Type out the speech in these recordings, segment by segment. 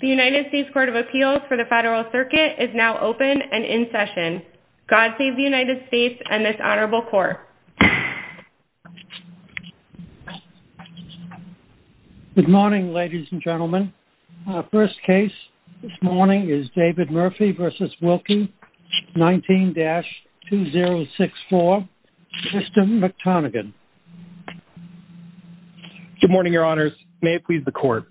The United States Court of Appeals for the Federal Circuit is now open and in session. God save the United States and this honorable court. Good morning, ladies and gentlemen. First case this morning is David Murphy v. Wilkie, 19-2064, Tristan McTonaghan. Good morning, your honors. May it please the court.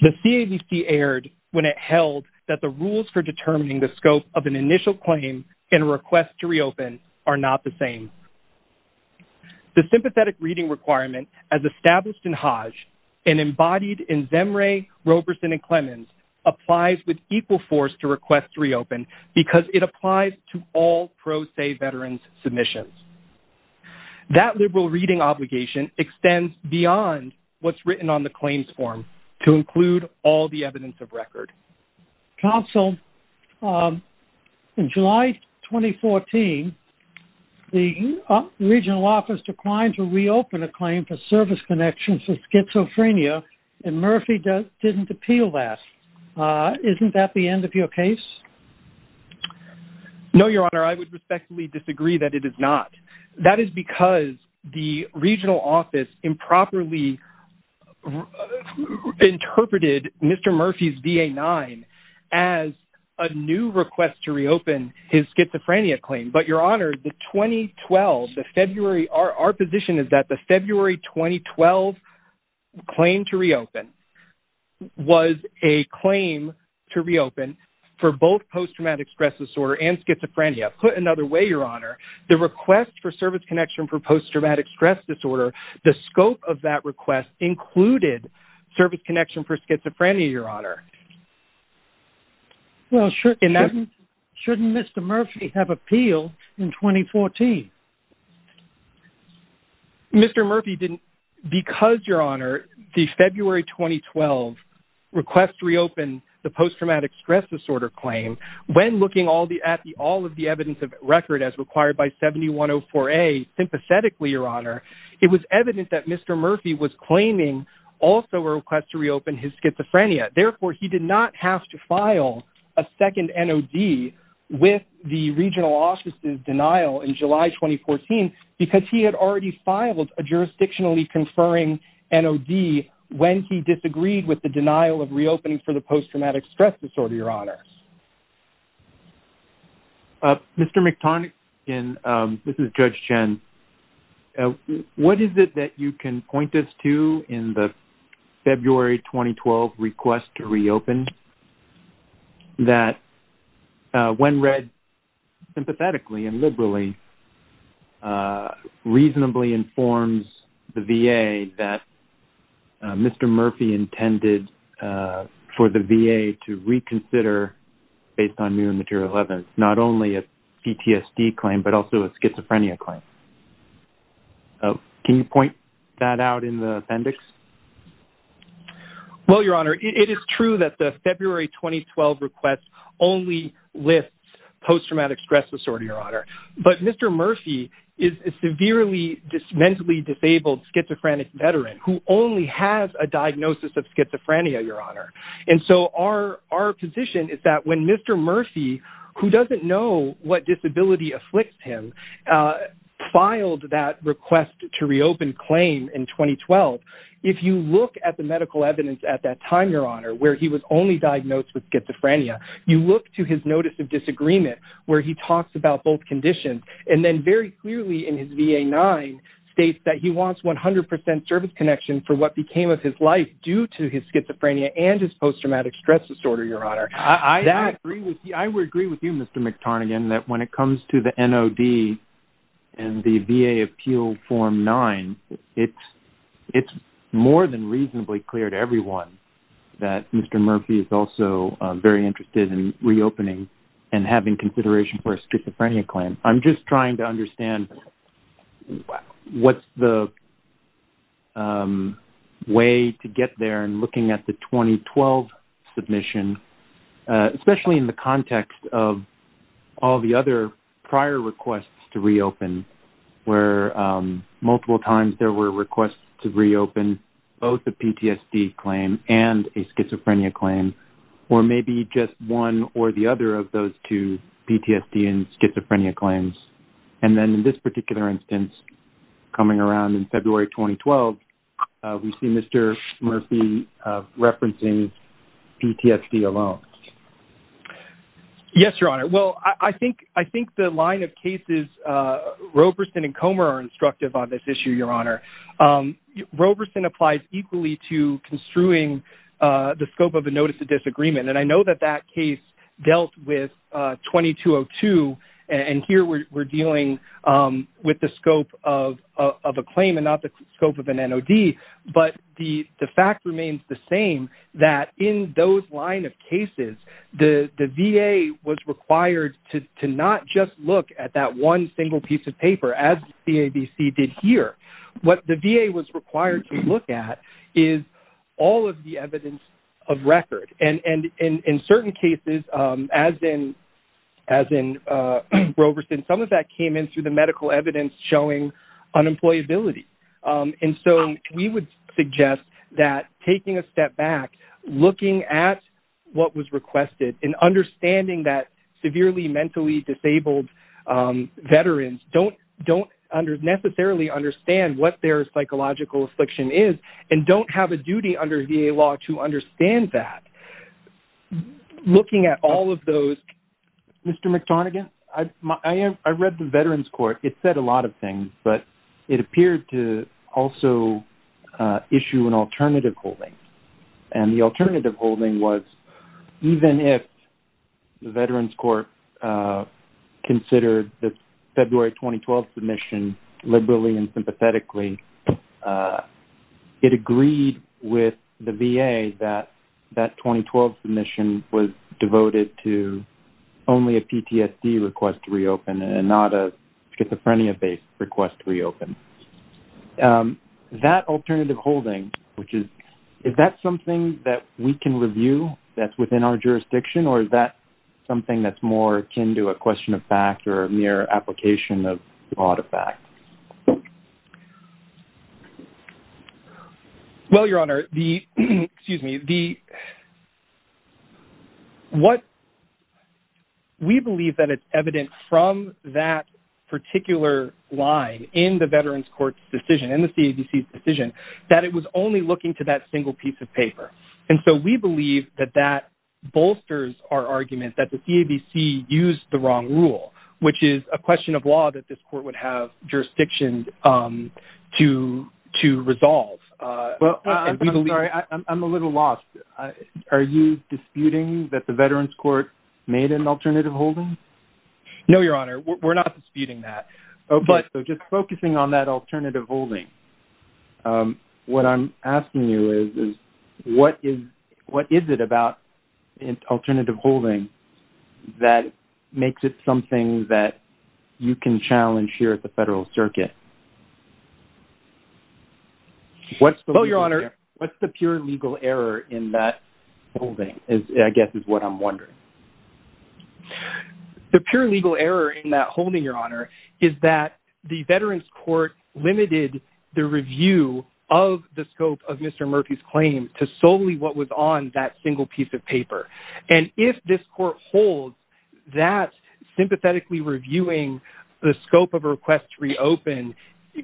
The CAVC erred when it held that the rules for determining the scope of an initial claim and request to reopen are not the same. The sympathetic reading requirement as established in Hodge and embodied in Zemre, Roberson and Clemens applies with equal force to request to reopen because it applies to all pro se veterans submissions. That liberal reading obligation extends beyond what's written on the claims form to include all the evidence of record. Counsel, in July 2014, the regional office declined to reopen a claim for service connections to schizophrenia and Murphy didn't appeal that. Isn't that the end of your case? No, your honor, I would respectfully disagree that it is not. That is because the regional office improperly interpreted Mr. Murphy's VA-9 as a new request to reopen his schizophrenia claim. But your honor, the 2012, the February, our position is that the February 2012 claim to both post-traumatic stress disorder and schizophrenia, put another way, your honor, the request for service connection for post-traumatic stress disorder, the scope of that request included service connection for schizophrenia, your honor. Well, shouldn't Mr. Murphy have appealed in 2014? Mr. Murphy didn't because, your honor, the February 2012 request to reopen the post-traumatic stress disorder claim, when looking at all of the evidence of record as required by 7104A, sympathetically, your honor, it was evident that Mr. Murphy was claiming also a request to reopen his schizophrenia. Therefore, he did not have to file a second NOD with the regional office's denial in July 2014 because he had already filed a jurisdictionally conferring NOD when he disagreed with the your honor. Mr. McTarnick, this is Judge Chen. What is it that you can point us to in the February 2012 request to reopen that, when read sympathetically and liberally, reasonably informs the VA that Mr. Murphy intended for the VA to reconsider, based on new material evidence, not only a PTSD claim, but also a schizophrenia claim? Can you point that out in the appendix? Well, your honor, it is true that the February 2012 request only lists post-traumatic stress disorder, your honor, but Mr. Murphy is a severely mentally disabled schizophrenic veteran who only has a diagnosis of schizophrenia, your honor. And so our position is that when Mr. Murphy, who doesn't know what disability afflicts him, filed that request to reopen claim in 2012, if you look at the medical evidence at that time, your honor, where he was only diagnosed with schizophrenia, you look to his notice of disagreement, where he talks about both conditions, and then very clearly in his VA-9 states that he wants 100% service connection for what became of his life due to his schizophrenia and his post-traumatic stress disorder, your honor. I would agree with you, Mr. McTarnaghan, that when it comes to the NOD and the VA Appeal Form 9, it's more than reasonably clear to everyone that Mr. Murphy is also very interested in reopening and having consideration for a schizophrenia claim. I'm just trying to understand what's the way to get there in looking at the 2012 submission, especially in the context of all the other prior requests to reopen, where multiple times there were requests to reopen both a PTSD claim and a schizophrenia claim, or maybe just one or the other of those two PTSD and schizophrenia claims. And then in this particular instance, coming around in February 2012, we see Mr. Murphy referencing PTSD alone. Yes, your honor. Well, I think the line of cases, Roberson and Comer are instructive on this issue, your honor. Roberson applies equally to construing the scope of a notice of disagreement. And I know that that case dealt with 2202. And here we're dealing with the scope of a claim and not the scope of an NOD. But the fact remains the same, that in those line of cases, the VA was required to not just look at that one single piece of paper as the CABC did here. What the VA was required to look at is all of the evidence of record. And in certain cases, as in Roberson, some of that came in through the medical evidence showing unemployability. And so we would suggest that taking a step back, looking at what was requested and understanding that severely mentally disabled veterans don't necessarily understand what their psychological affliction is and don't have a duty under VA law to understand that. Looking at all of those... Mr. McTonaghan, I read the Veterans Court. It said a lot of things, but it appeared to also issue an alternative holding. And the alternative holding was even if the Veterans Court considered the February 2012 submission liberally and sympathetically, it agreed with the VA that that 2012 submission was devoted to only a PTSD request to reopen and not a schizophrenia-based request to reopen. Is that alternative holding, is that something that we can review that's within our jurisdiction or is that something that's more akin to a question of fact or a mere application of law to fact? Well, Your Honor, we believe that it's evident from that particular line in the Veterans Court's decision, in the CABC's decision, that it was only looking to that single piece of paper. And so we believe that that bolsters our argument that the CABC used the wrong rule, which is a question of law that this court would have jurisdiction to resolve. I'm sorry, I'm a little lost. Are you disputing that the Veterans Court made an alternative holding? No, Your Honor, we're not disputing that. Okay, so just focusing on that alternative holding, what I'm asking you is, what is it about alternative holding that makes it something that you can challenge here at the Federal Circuit? Well, Your Honor, what's the pure legal error in that holding, I guess is what I'm wondering? The pure legal error in that holding, Your Honor, is that the Veterans Court limited the review of the scope of Mr. Murphy's claim to solely what was on that single piece of paper. And if this court holds that sympathetically reviewing the scope of a request to reopen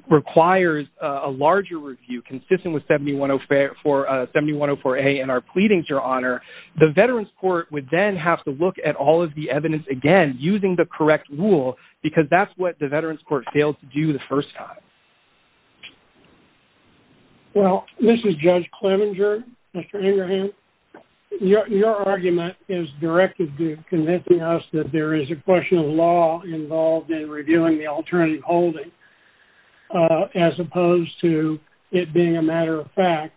requires a larger review consistent with 7104A in our pleadings, Your Honor, the Veterans Court would then have to look at all of the evidence again, using the correct rule, because that's what the Veterans Court failed to do the first time. Well, this is Judge Kleminger, Mr. Ingerham, your argument is directed to convincing us that there is a question of law involved in reviewing the alternative holding, as opposed to it being a matter of fact.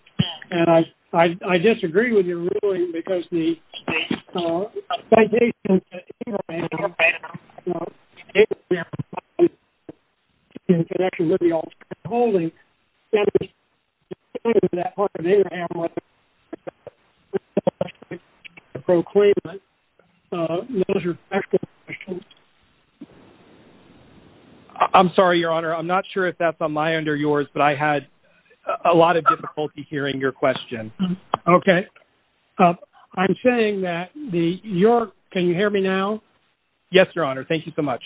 And I disagree with your ruling, because the citations that Ingerham has stated there, in connection with the alternative holding, that part of Ingerham was supposed to proclaim it, those are factual questions. I'm sorry, Your Honor, I'm not sure if that's on my end or yours, but I had a lot of difficulty hearing your question. Okay. I'm saying that the, your, can you hear me now? Yes, Your Honor, thank you so much.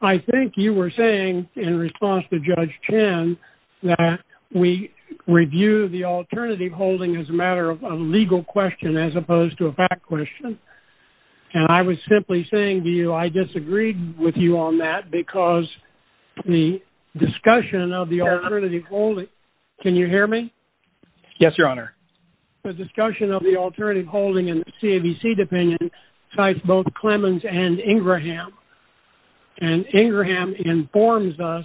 I think you were saying, in response to Judge Chen, that we review the alternative holding as a matter of a legal question, as opposed to a fact question. And I was simply saying to you, I disagreed with you on that, because the discussion of the alternative holding, can you hear me? Yes, Your Honor. The discussion of the alternative holding in the CABC opinion, cites both Clemens and Ingerham, and Ingerham informs us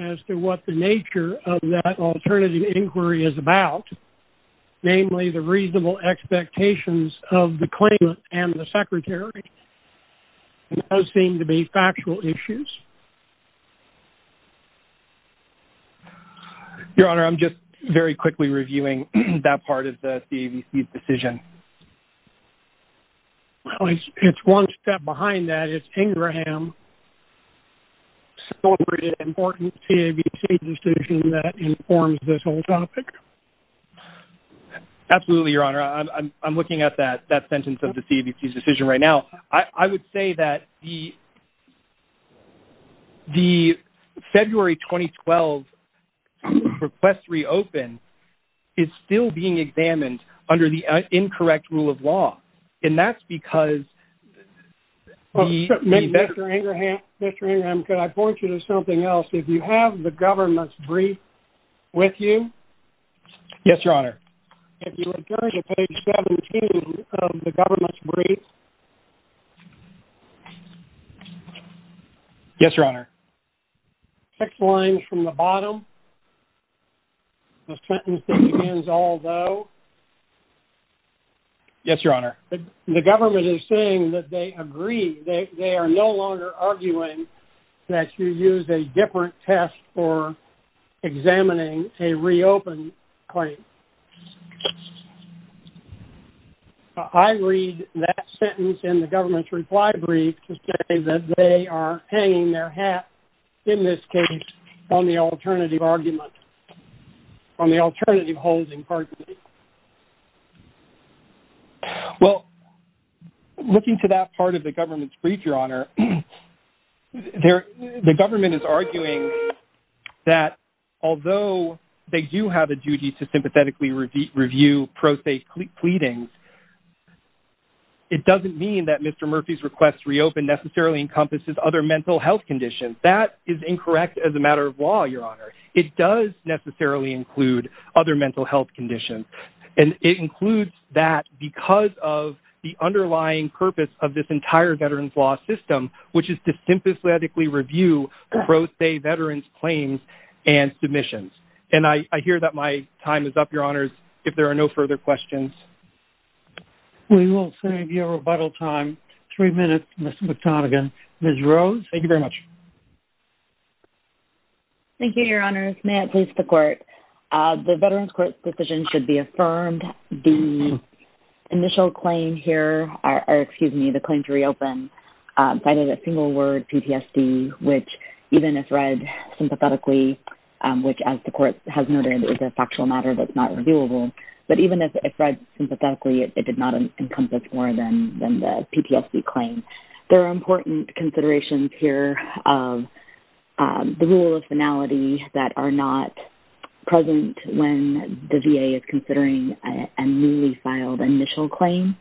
as to what the nature of that alternative inquiry is about, namely the reasonable expectations of the claimant and the secretary, and those Your Honor, I'm just very quickly reviewing that part of the CABC's decision. Well, it's one step behind that, is Ingerham celebrated an important CABC decision that informs this whole topic? Absolutely, Your Honor, I'm looking at that sentence of the CABC's decision right now. I would say that the February 2012 request to reopen is still being examined under the incorrect rule of law, and that's because the... Mr. Ingerham, could I point you to something else? If you have the government's brief with you... Yes, Your Honor. If you would turn to page 17 of the government's brief... Yes, Your Honor. Six lines from the bottom, the sentence that begins, although... Yes, Your Honor. The government is saying that they agree, they are no longer arguing that you use a different test for examining a reopened claim. I read that sentence in the government's reply brief to say that they are hanging their hat, in this case, on the alternative argument, on the alternative holding party. Well, looking to that part of the government's brief, Your Honor, the government is arguing that although they do have a duty to sympathetically review pro se pleadings, it doesn't mean that Mr. Murphy's request to reopen necessarily encompasses other mental health conditions. That is incorrect as a matter of law, Your Honor. It does necessarily include other mental health conditions, and it includes that because of the underlying purpose of this entire veterans' law system, which is to sympathetically review pro se veterans' claims and submissions. And I hear that my time is up, Your Honors, if there are no further questions. We will save you rebuttal time. Three minutes, Mr. McDonagan. Ms. Rose? Thank you very much. Thank you, Your Honors. May it please the Court. The Veterans Court's decision should be affirmed. The initial claim here, or excuse me, the claim to reopen, cited a single word, PTSD, which even if read sympathetically, which as the Court has noted is a factual matter that's not reviewable, but even if read sympathetically, it did not encompass more than the PTSD claim. There are important considerations here of the rule of finality that are not present when the VA is considering a newly filed initial claim.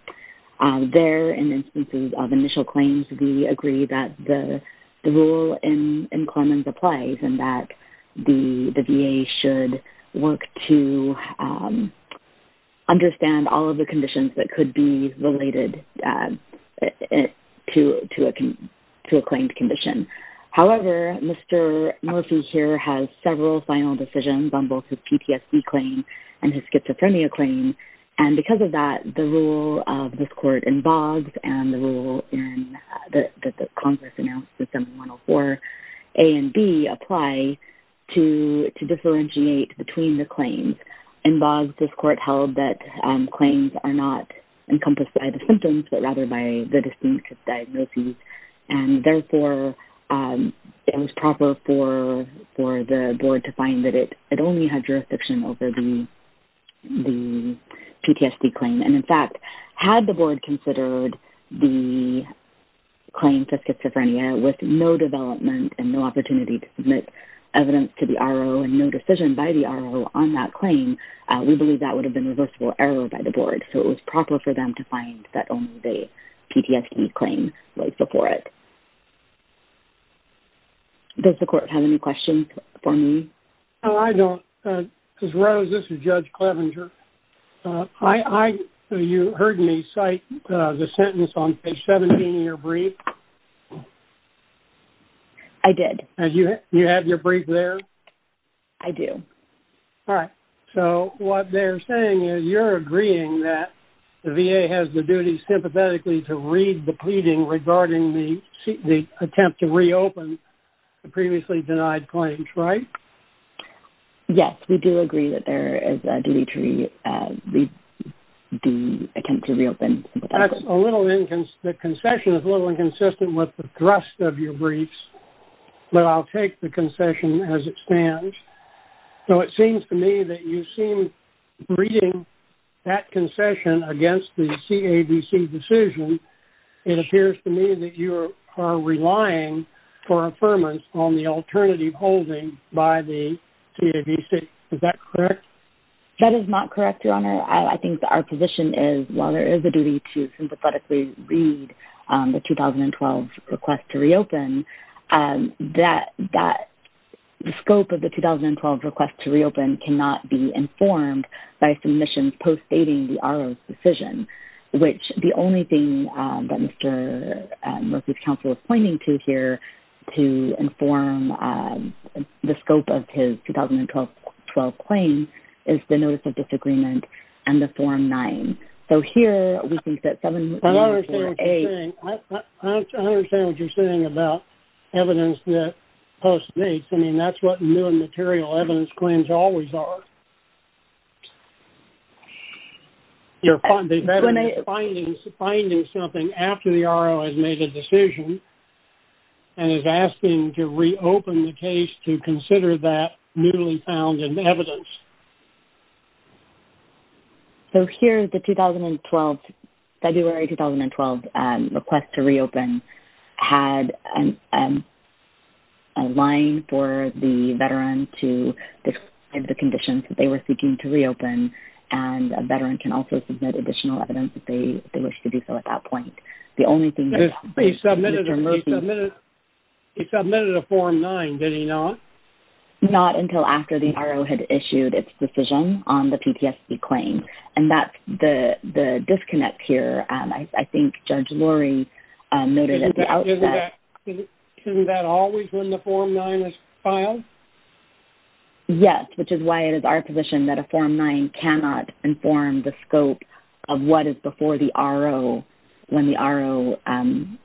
There, in instances of initial claims, we agree that the rule in Clemens applies and that the VA should work to understand all of the conditions that could be related to a claimed condition. However, Mr. Murphy here has several final decisions on both his PTSD claim and his schizophrenia claim, and because of that, the rule of this Court in Boggs and the rule that Congress announced in 7104 A and B would apply to differentiate between the claims. In Boggs, this Court held that claims are not encompassed by the symptoms, but rather by the distinct diagnoses, and therefore, it was proper for the Board to find that it only had jurisdiction over the PTSD claim. In fact, had the Board considered the claim for schizophrenia with no development and no opportunity to submit evidence to the R.O. and no decision by the R.O. on that claim, we believe that would have been a reversible error by the Board, so it was proper for them to find that only the PTSD claim was before it. Does the Court have any questions for me? No, I don't. Ms. Rose, this is Judge Clevenger. You heard me cite the sentence on page 17 in your brief. I did. Do you have your brief there? I do. All right, so what they're saying is you're agreeing that the VA has the duty sympathetically to read the pleading regarding the attempt to reopen the previously denied claims, right? Yes, we do agree that there is a duty to read the attempt to reopen. That's a little inconsistent. The concession is a little inconsistent with the thrust of your briefs, but I'll take the concession as it stands. So it seems to me that you seem, reading that concession against the CADC decision, it appears to me that you are relying for affirmance on the alternative holding by the CADC. Is that correct? That is not correct, Your Honor. I think our position is, while there is a duty to sympathetically read the 2012 request to reopen, the scope of the 2012 request to reopen cannot be informed by submissions postdating the R.O.'s decision, which the only thing that Mr. Murphy's counsel is pointing to here to inform the scope of his 2012 claim is the Notice of Disagreement and the Form 9. So here, we think that 7-1-4-8- I understand what you're saying about evidence that postdates. I mean, that's what new and material evidence claims always are. You're finding something after the R.O. has made a decision and is asking to reopen the case to consider that newly found evidence. So here, the February 2012 request to reopen had a line for the veteran to describe the conditions that they were seeking to reopen, and a veteran can also submit additional evidence if they wish to do so at that point. He submitted a Form 9, did he not? Not until after the R.O. had issued its decision on the PTSD claim, and that's the disconnect here. I think Judge Lurie noted at the outset- Isn't that always when the Form 9 is filed? Yes, which is why it is our position that a Form 9 cannot inform the scope of what is before the R.O. when the R.O.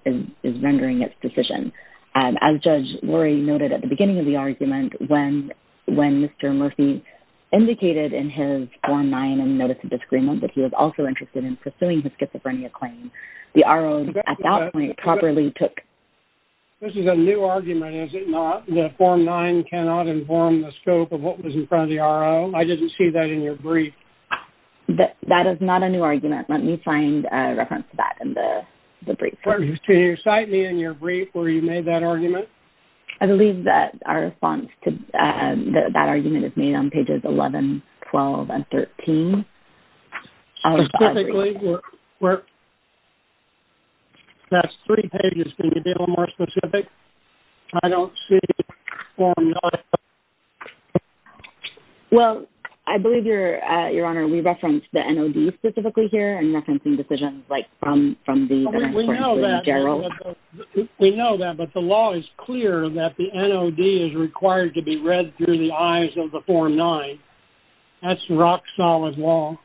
is rendering its decision. As Judge Lurie noted at the beginning of the argument, when Mr. Murphy indicated in his Form 9 and Notice of Disagreement that he was also interested in pursuing his schizophrenia claim, the R.O. at that point properly took- This is a new argument, is it not, that Form 9 cannot inform the scope of what was in front of the R.O.? I didn't see that in your brief. That is not a new argument. Let me find a reference to that in the brief. Can you cite me in your brief where you made that argument? I believe that our response to that argument is made on pages 11, 12, and 13. Specifically, where- That's three pages. Can you be a little more specific? I don't see Form 9- Well, I believe, Your Honor, we referenced the N.O.D. specifically here in referencing decisions like from the- We know that, but the law is clear that the N.O.D. is required to be read through the eyes of the Form 9. That's rock-solid law.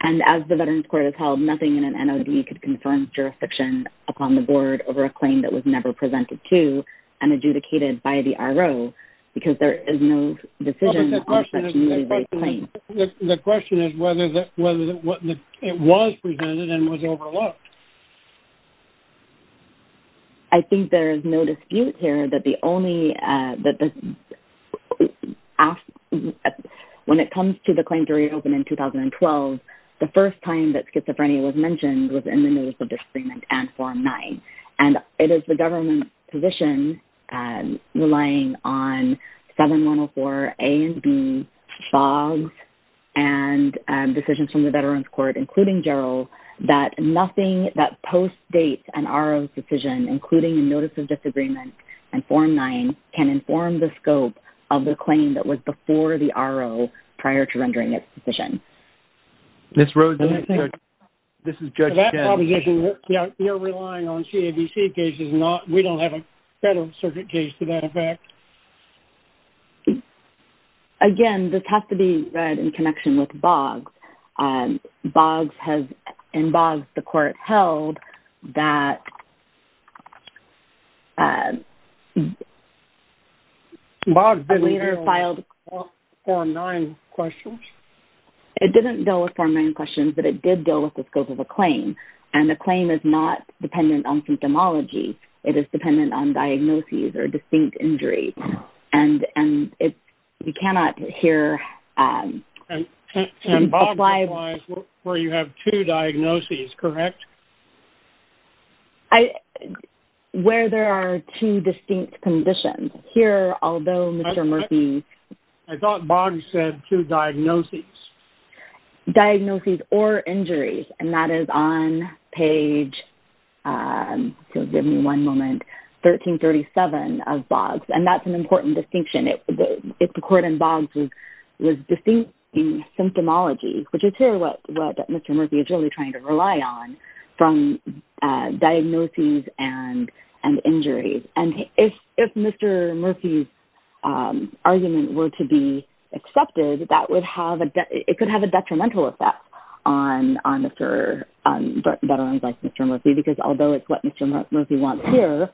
And as the Veterans Court has held, nothing in an N.O.D. could confirm jurisdiction upon the Board over a claim that was never presented to and adjudicated by the R.O. because there is no decision on such a- The question is whether it was presented and was overlooked. I think there is no dispute here that the only- When it comes to the claim to reopen in 2012, the first time that schizophrenia was mentioned was in the Notice of Disagreement and Form 9. And it is the government's position, relying on 7104 A and B, FOGS, and decisions from the Veterans Court, including Gerald, that nothing that postdates an R.O.'s decision, including a Notice of Disagreement and Form 9, can inform the scope of the claim that was before the R.O. prior to rendering its decision. Ms. Rhodes, this is Judge Chen. You're relying on C.A.V.C. cases, and we don't have a federal circuit case to that effect. Again, this has to be read in connection with FOGS. FOGS has- In FOGS, the court held that- FOGS didn't deal with Form 9 questions? It didn't deal with Form 9 questions, but it did deal with the scope of the claim. And the claim is not dependent on symptomology. It is dependent on diagnoses or distinct injuries. And we cannot hear- And FOGS applies where you have two diagnoses, correct? Where there are two distinct conditions. Here, although Mr. Murphy- I thought FOGS said two diagnoses. Diagnoses or injuries. And that is on page- give me one moment- 1337 of FOGS. That's an important distinction. If the court in FOGS was distinct in symptomology, which is here what Mr. Murphy is really trying to rely on, from diagnoses and injuries. And if Mr. Murphy's argument were to be accepted, it could have a detrimental effect on veterans like Mr. Murphy, because although it's what Mr. Murphy wants here,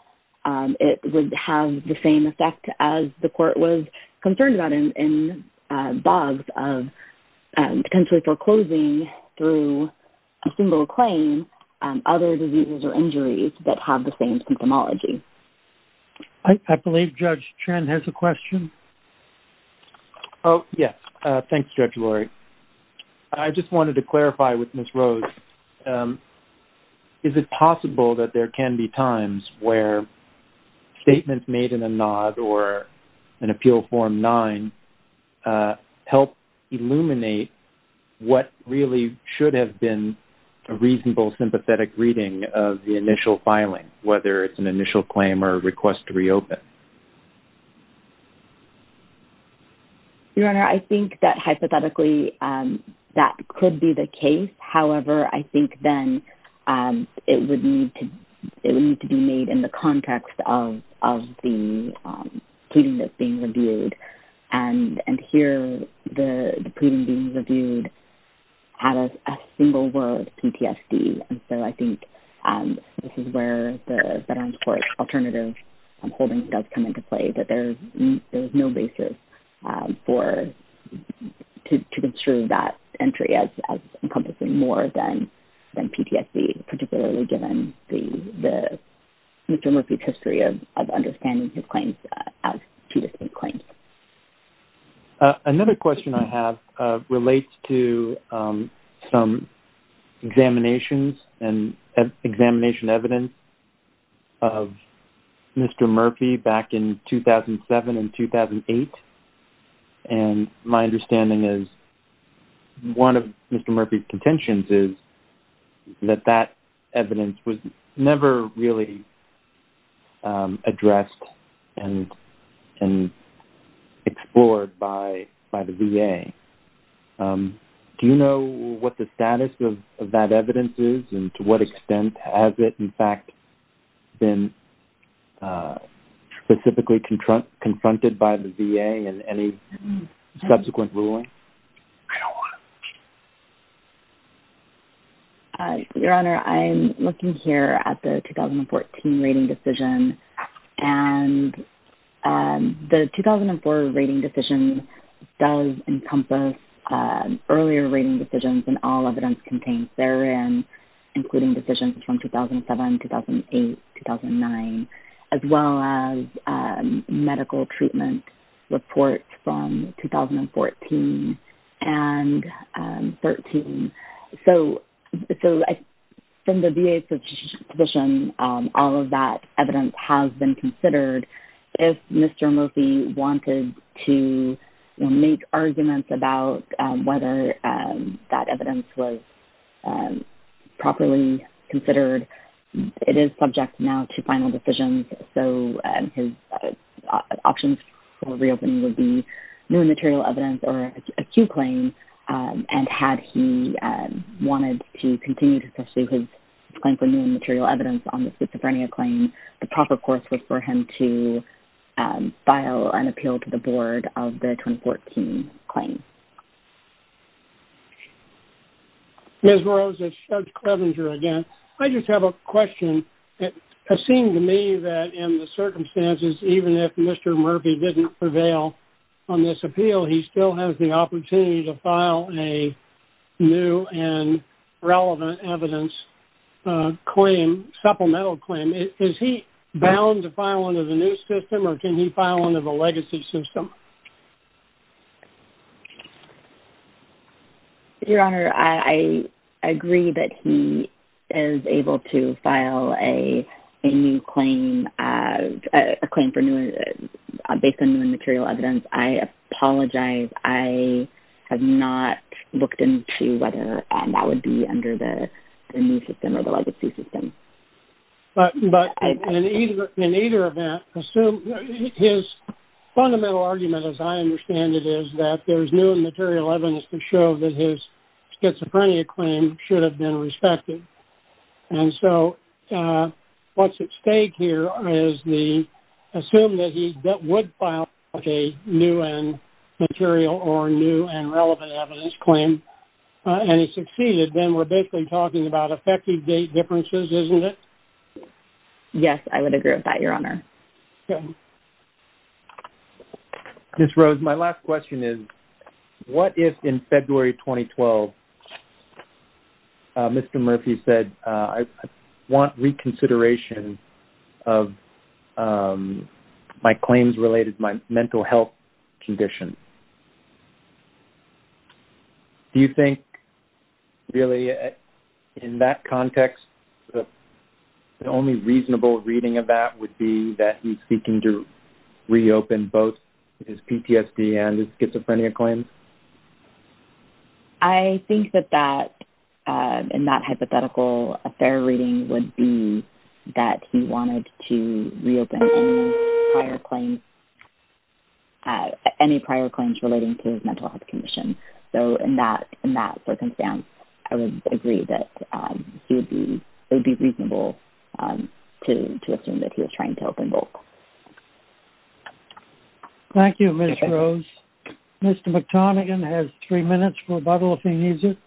it would have the same effect as the court was concerned about in FOGS, potentially foreclosing through a single claim other diseases or injuries that have the same symptomology. I believe Judge Trent has a question. Oh, yes. Thanks, Judge Lori. I just wanted to clarify with Ms. Rose. Is it possible that there can be times where statements made in a NOD or an appeal form 9 help illuminate what really should have been a reasonable sympathetic reading of the initial filing, whether it's an initial claim or a request to reopen? Your Honor, I think that hypothetically that could be the case. However, I think then it would need to be made in the context of the pleading that's being reviewed. And here, the pleading being reviewed had a single word, PTSD. And so I think this is where the Veterans Court Alternative Holdings does come into play, that there's no basis for-to construe that entry as encompassing more than PTSD, particularly given the-Mr. Murphy's history of understanding his claims as two distinct claims. Another question I have relates to some examinations and examination evidence of Mr. Murphy back in 2007 and 2008. And my understanding is-one of Mr. Murphy's contentions is that that evidence was never really addressed and explored by the VA. Do you know what the status of that evidence is and to what extent has it, in fact, been specifically confronted by the VA in any subsequent ruling? I don't know. Your Honor, I'm looking here at the 2014 rating decision. And the 2004 rating decision does encompass earlier rating decisions in all evidence contained therein, including decisions from 2007, 2008, 2009, as well as medical treatment reports from 2014 and 2013. So from the VA's position, all of that evidence has been considered. If Mr. Murphy wanted to make arguments about whether that evidence was properly considered, it is subject now to final decisions. So his options for reopening would be new and material evidence or acute claims. And had he wanted to continue to pursue his claims for new and material evidence on the schizophrenia claim, the proper course was for him to file an appeal to the board of the 2014 claim. Ms. Rose, it's Judge Clevenger again. I have a question. It seems to me that in the circumstances, even if Mr. Murphy didn't prevail on this appeal, he still has the opportunity to file a new and relevant evidence claim, supplemental claim. Is he bound to file under the new system or can he file under the legacy system? Your Honor, I agree that he is able to file a new claim, a claim based on new and material evidence. I apologize. I have not looked into whether that would be under the new system or the legacy system. But in either event, his fundamental argument as I understand it is that there's new and material evidence to show that his schizophrenia claim should have been respected. And so what's at stake here is the, assume that he would file a new and material or new and relevant evidence claim and he succeeded, then we're basically talking about effective date differences, isn't it? Yes, I would agree with that, Your Honor. Okay. Ms. Rose, my last question is, what if in February 2012, Mr. Murphy said, I want reconsideration of my claims related to my mental health condition? Do you think really in that context, the only reasonable reading of that would be that he's seeking to reopen both his PTSD and his schizophrenia claims? I think that that, in that hypothetical affair reading would be that he wanted to reopen any prior claims, any prior claims relating to his mental health condition. So in that circumstance, I would agree that it would be reasonable to assume that he was trying to open both. Thank you, Ms. Rose. Mr. McTonaghan has three minutes for rebuttal if he needs it.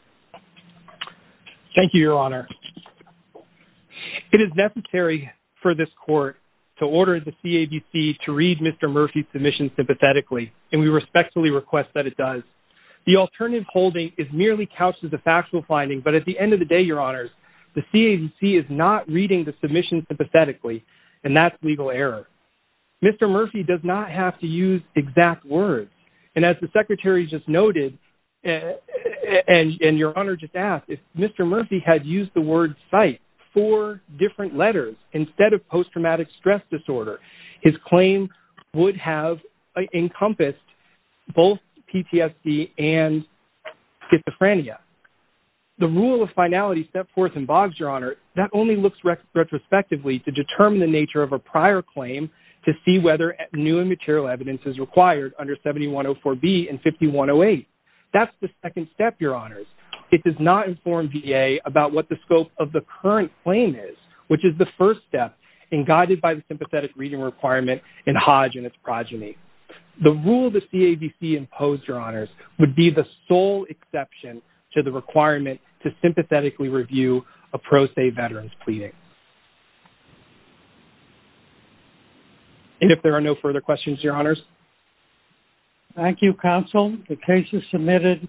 Thank you, Your Honor. It is necessary for this court to order the CADC to read Mr. Murphy's submission sympathetically, and we respectfully request that it does. The alternative holding is merely couched as a factual finding, but at the end of the day, Your Honors, the CADC is not reading the submission sympathetically, and that's legal error. Mr. Murphy does not have to use exact words, and as the Secretary just noted, and Your Honor just asked, if Mr. Murphy had used the word psych four different letters instead of post-traumatic stress disorder, his claim would have encompassed both PTSD and schizophrenia. The rule of finality step forth in Boggs, Your Honor, that only looks retrospectively to determine the nature of a prior claim to see whether new and material evidence is required under 7104B and 5108. That's the second step, Your Honors. It does not inform VA about what the scope of the current claim is, which is the first step, and guided by the sympathetic reading requirement in Hodge and its progeny. The rule the CADC imposed, Your Honors, would be the sole exception to the requirement to sympathetically review a pro se veteran's pleading. And if there are no further questions, Your Honors. Thank you, Counsel. The case is submitted.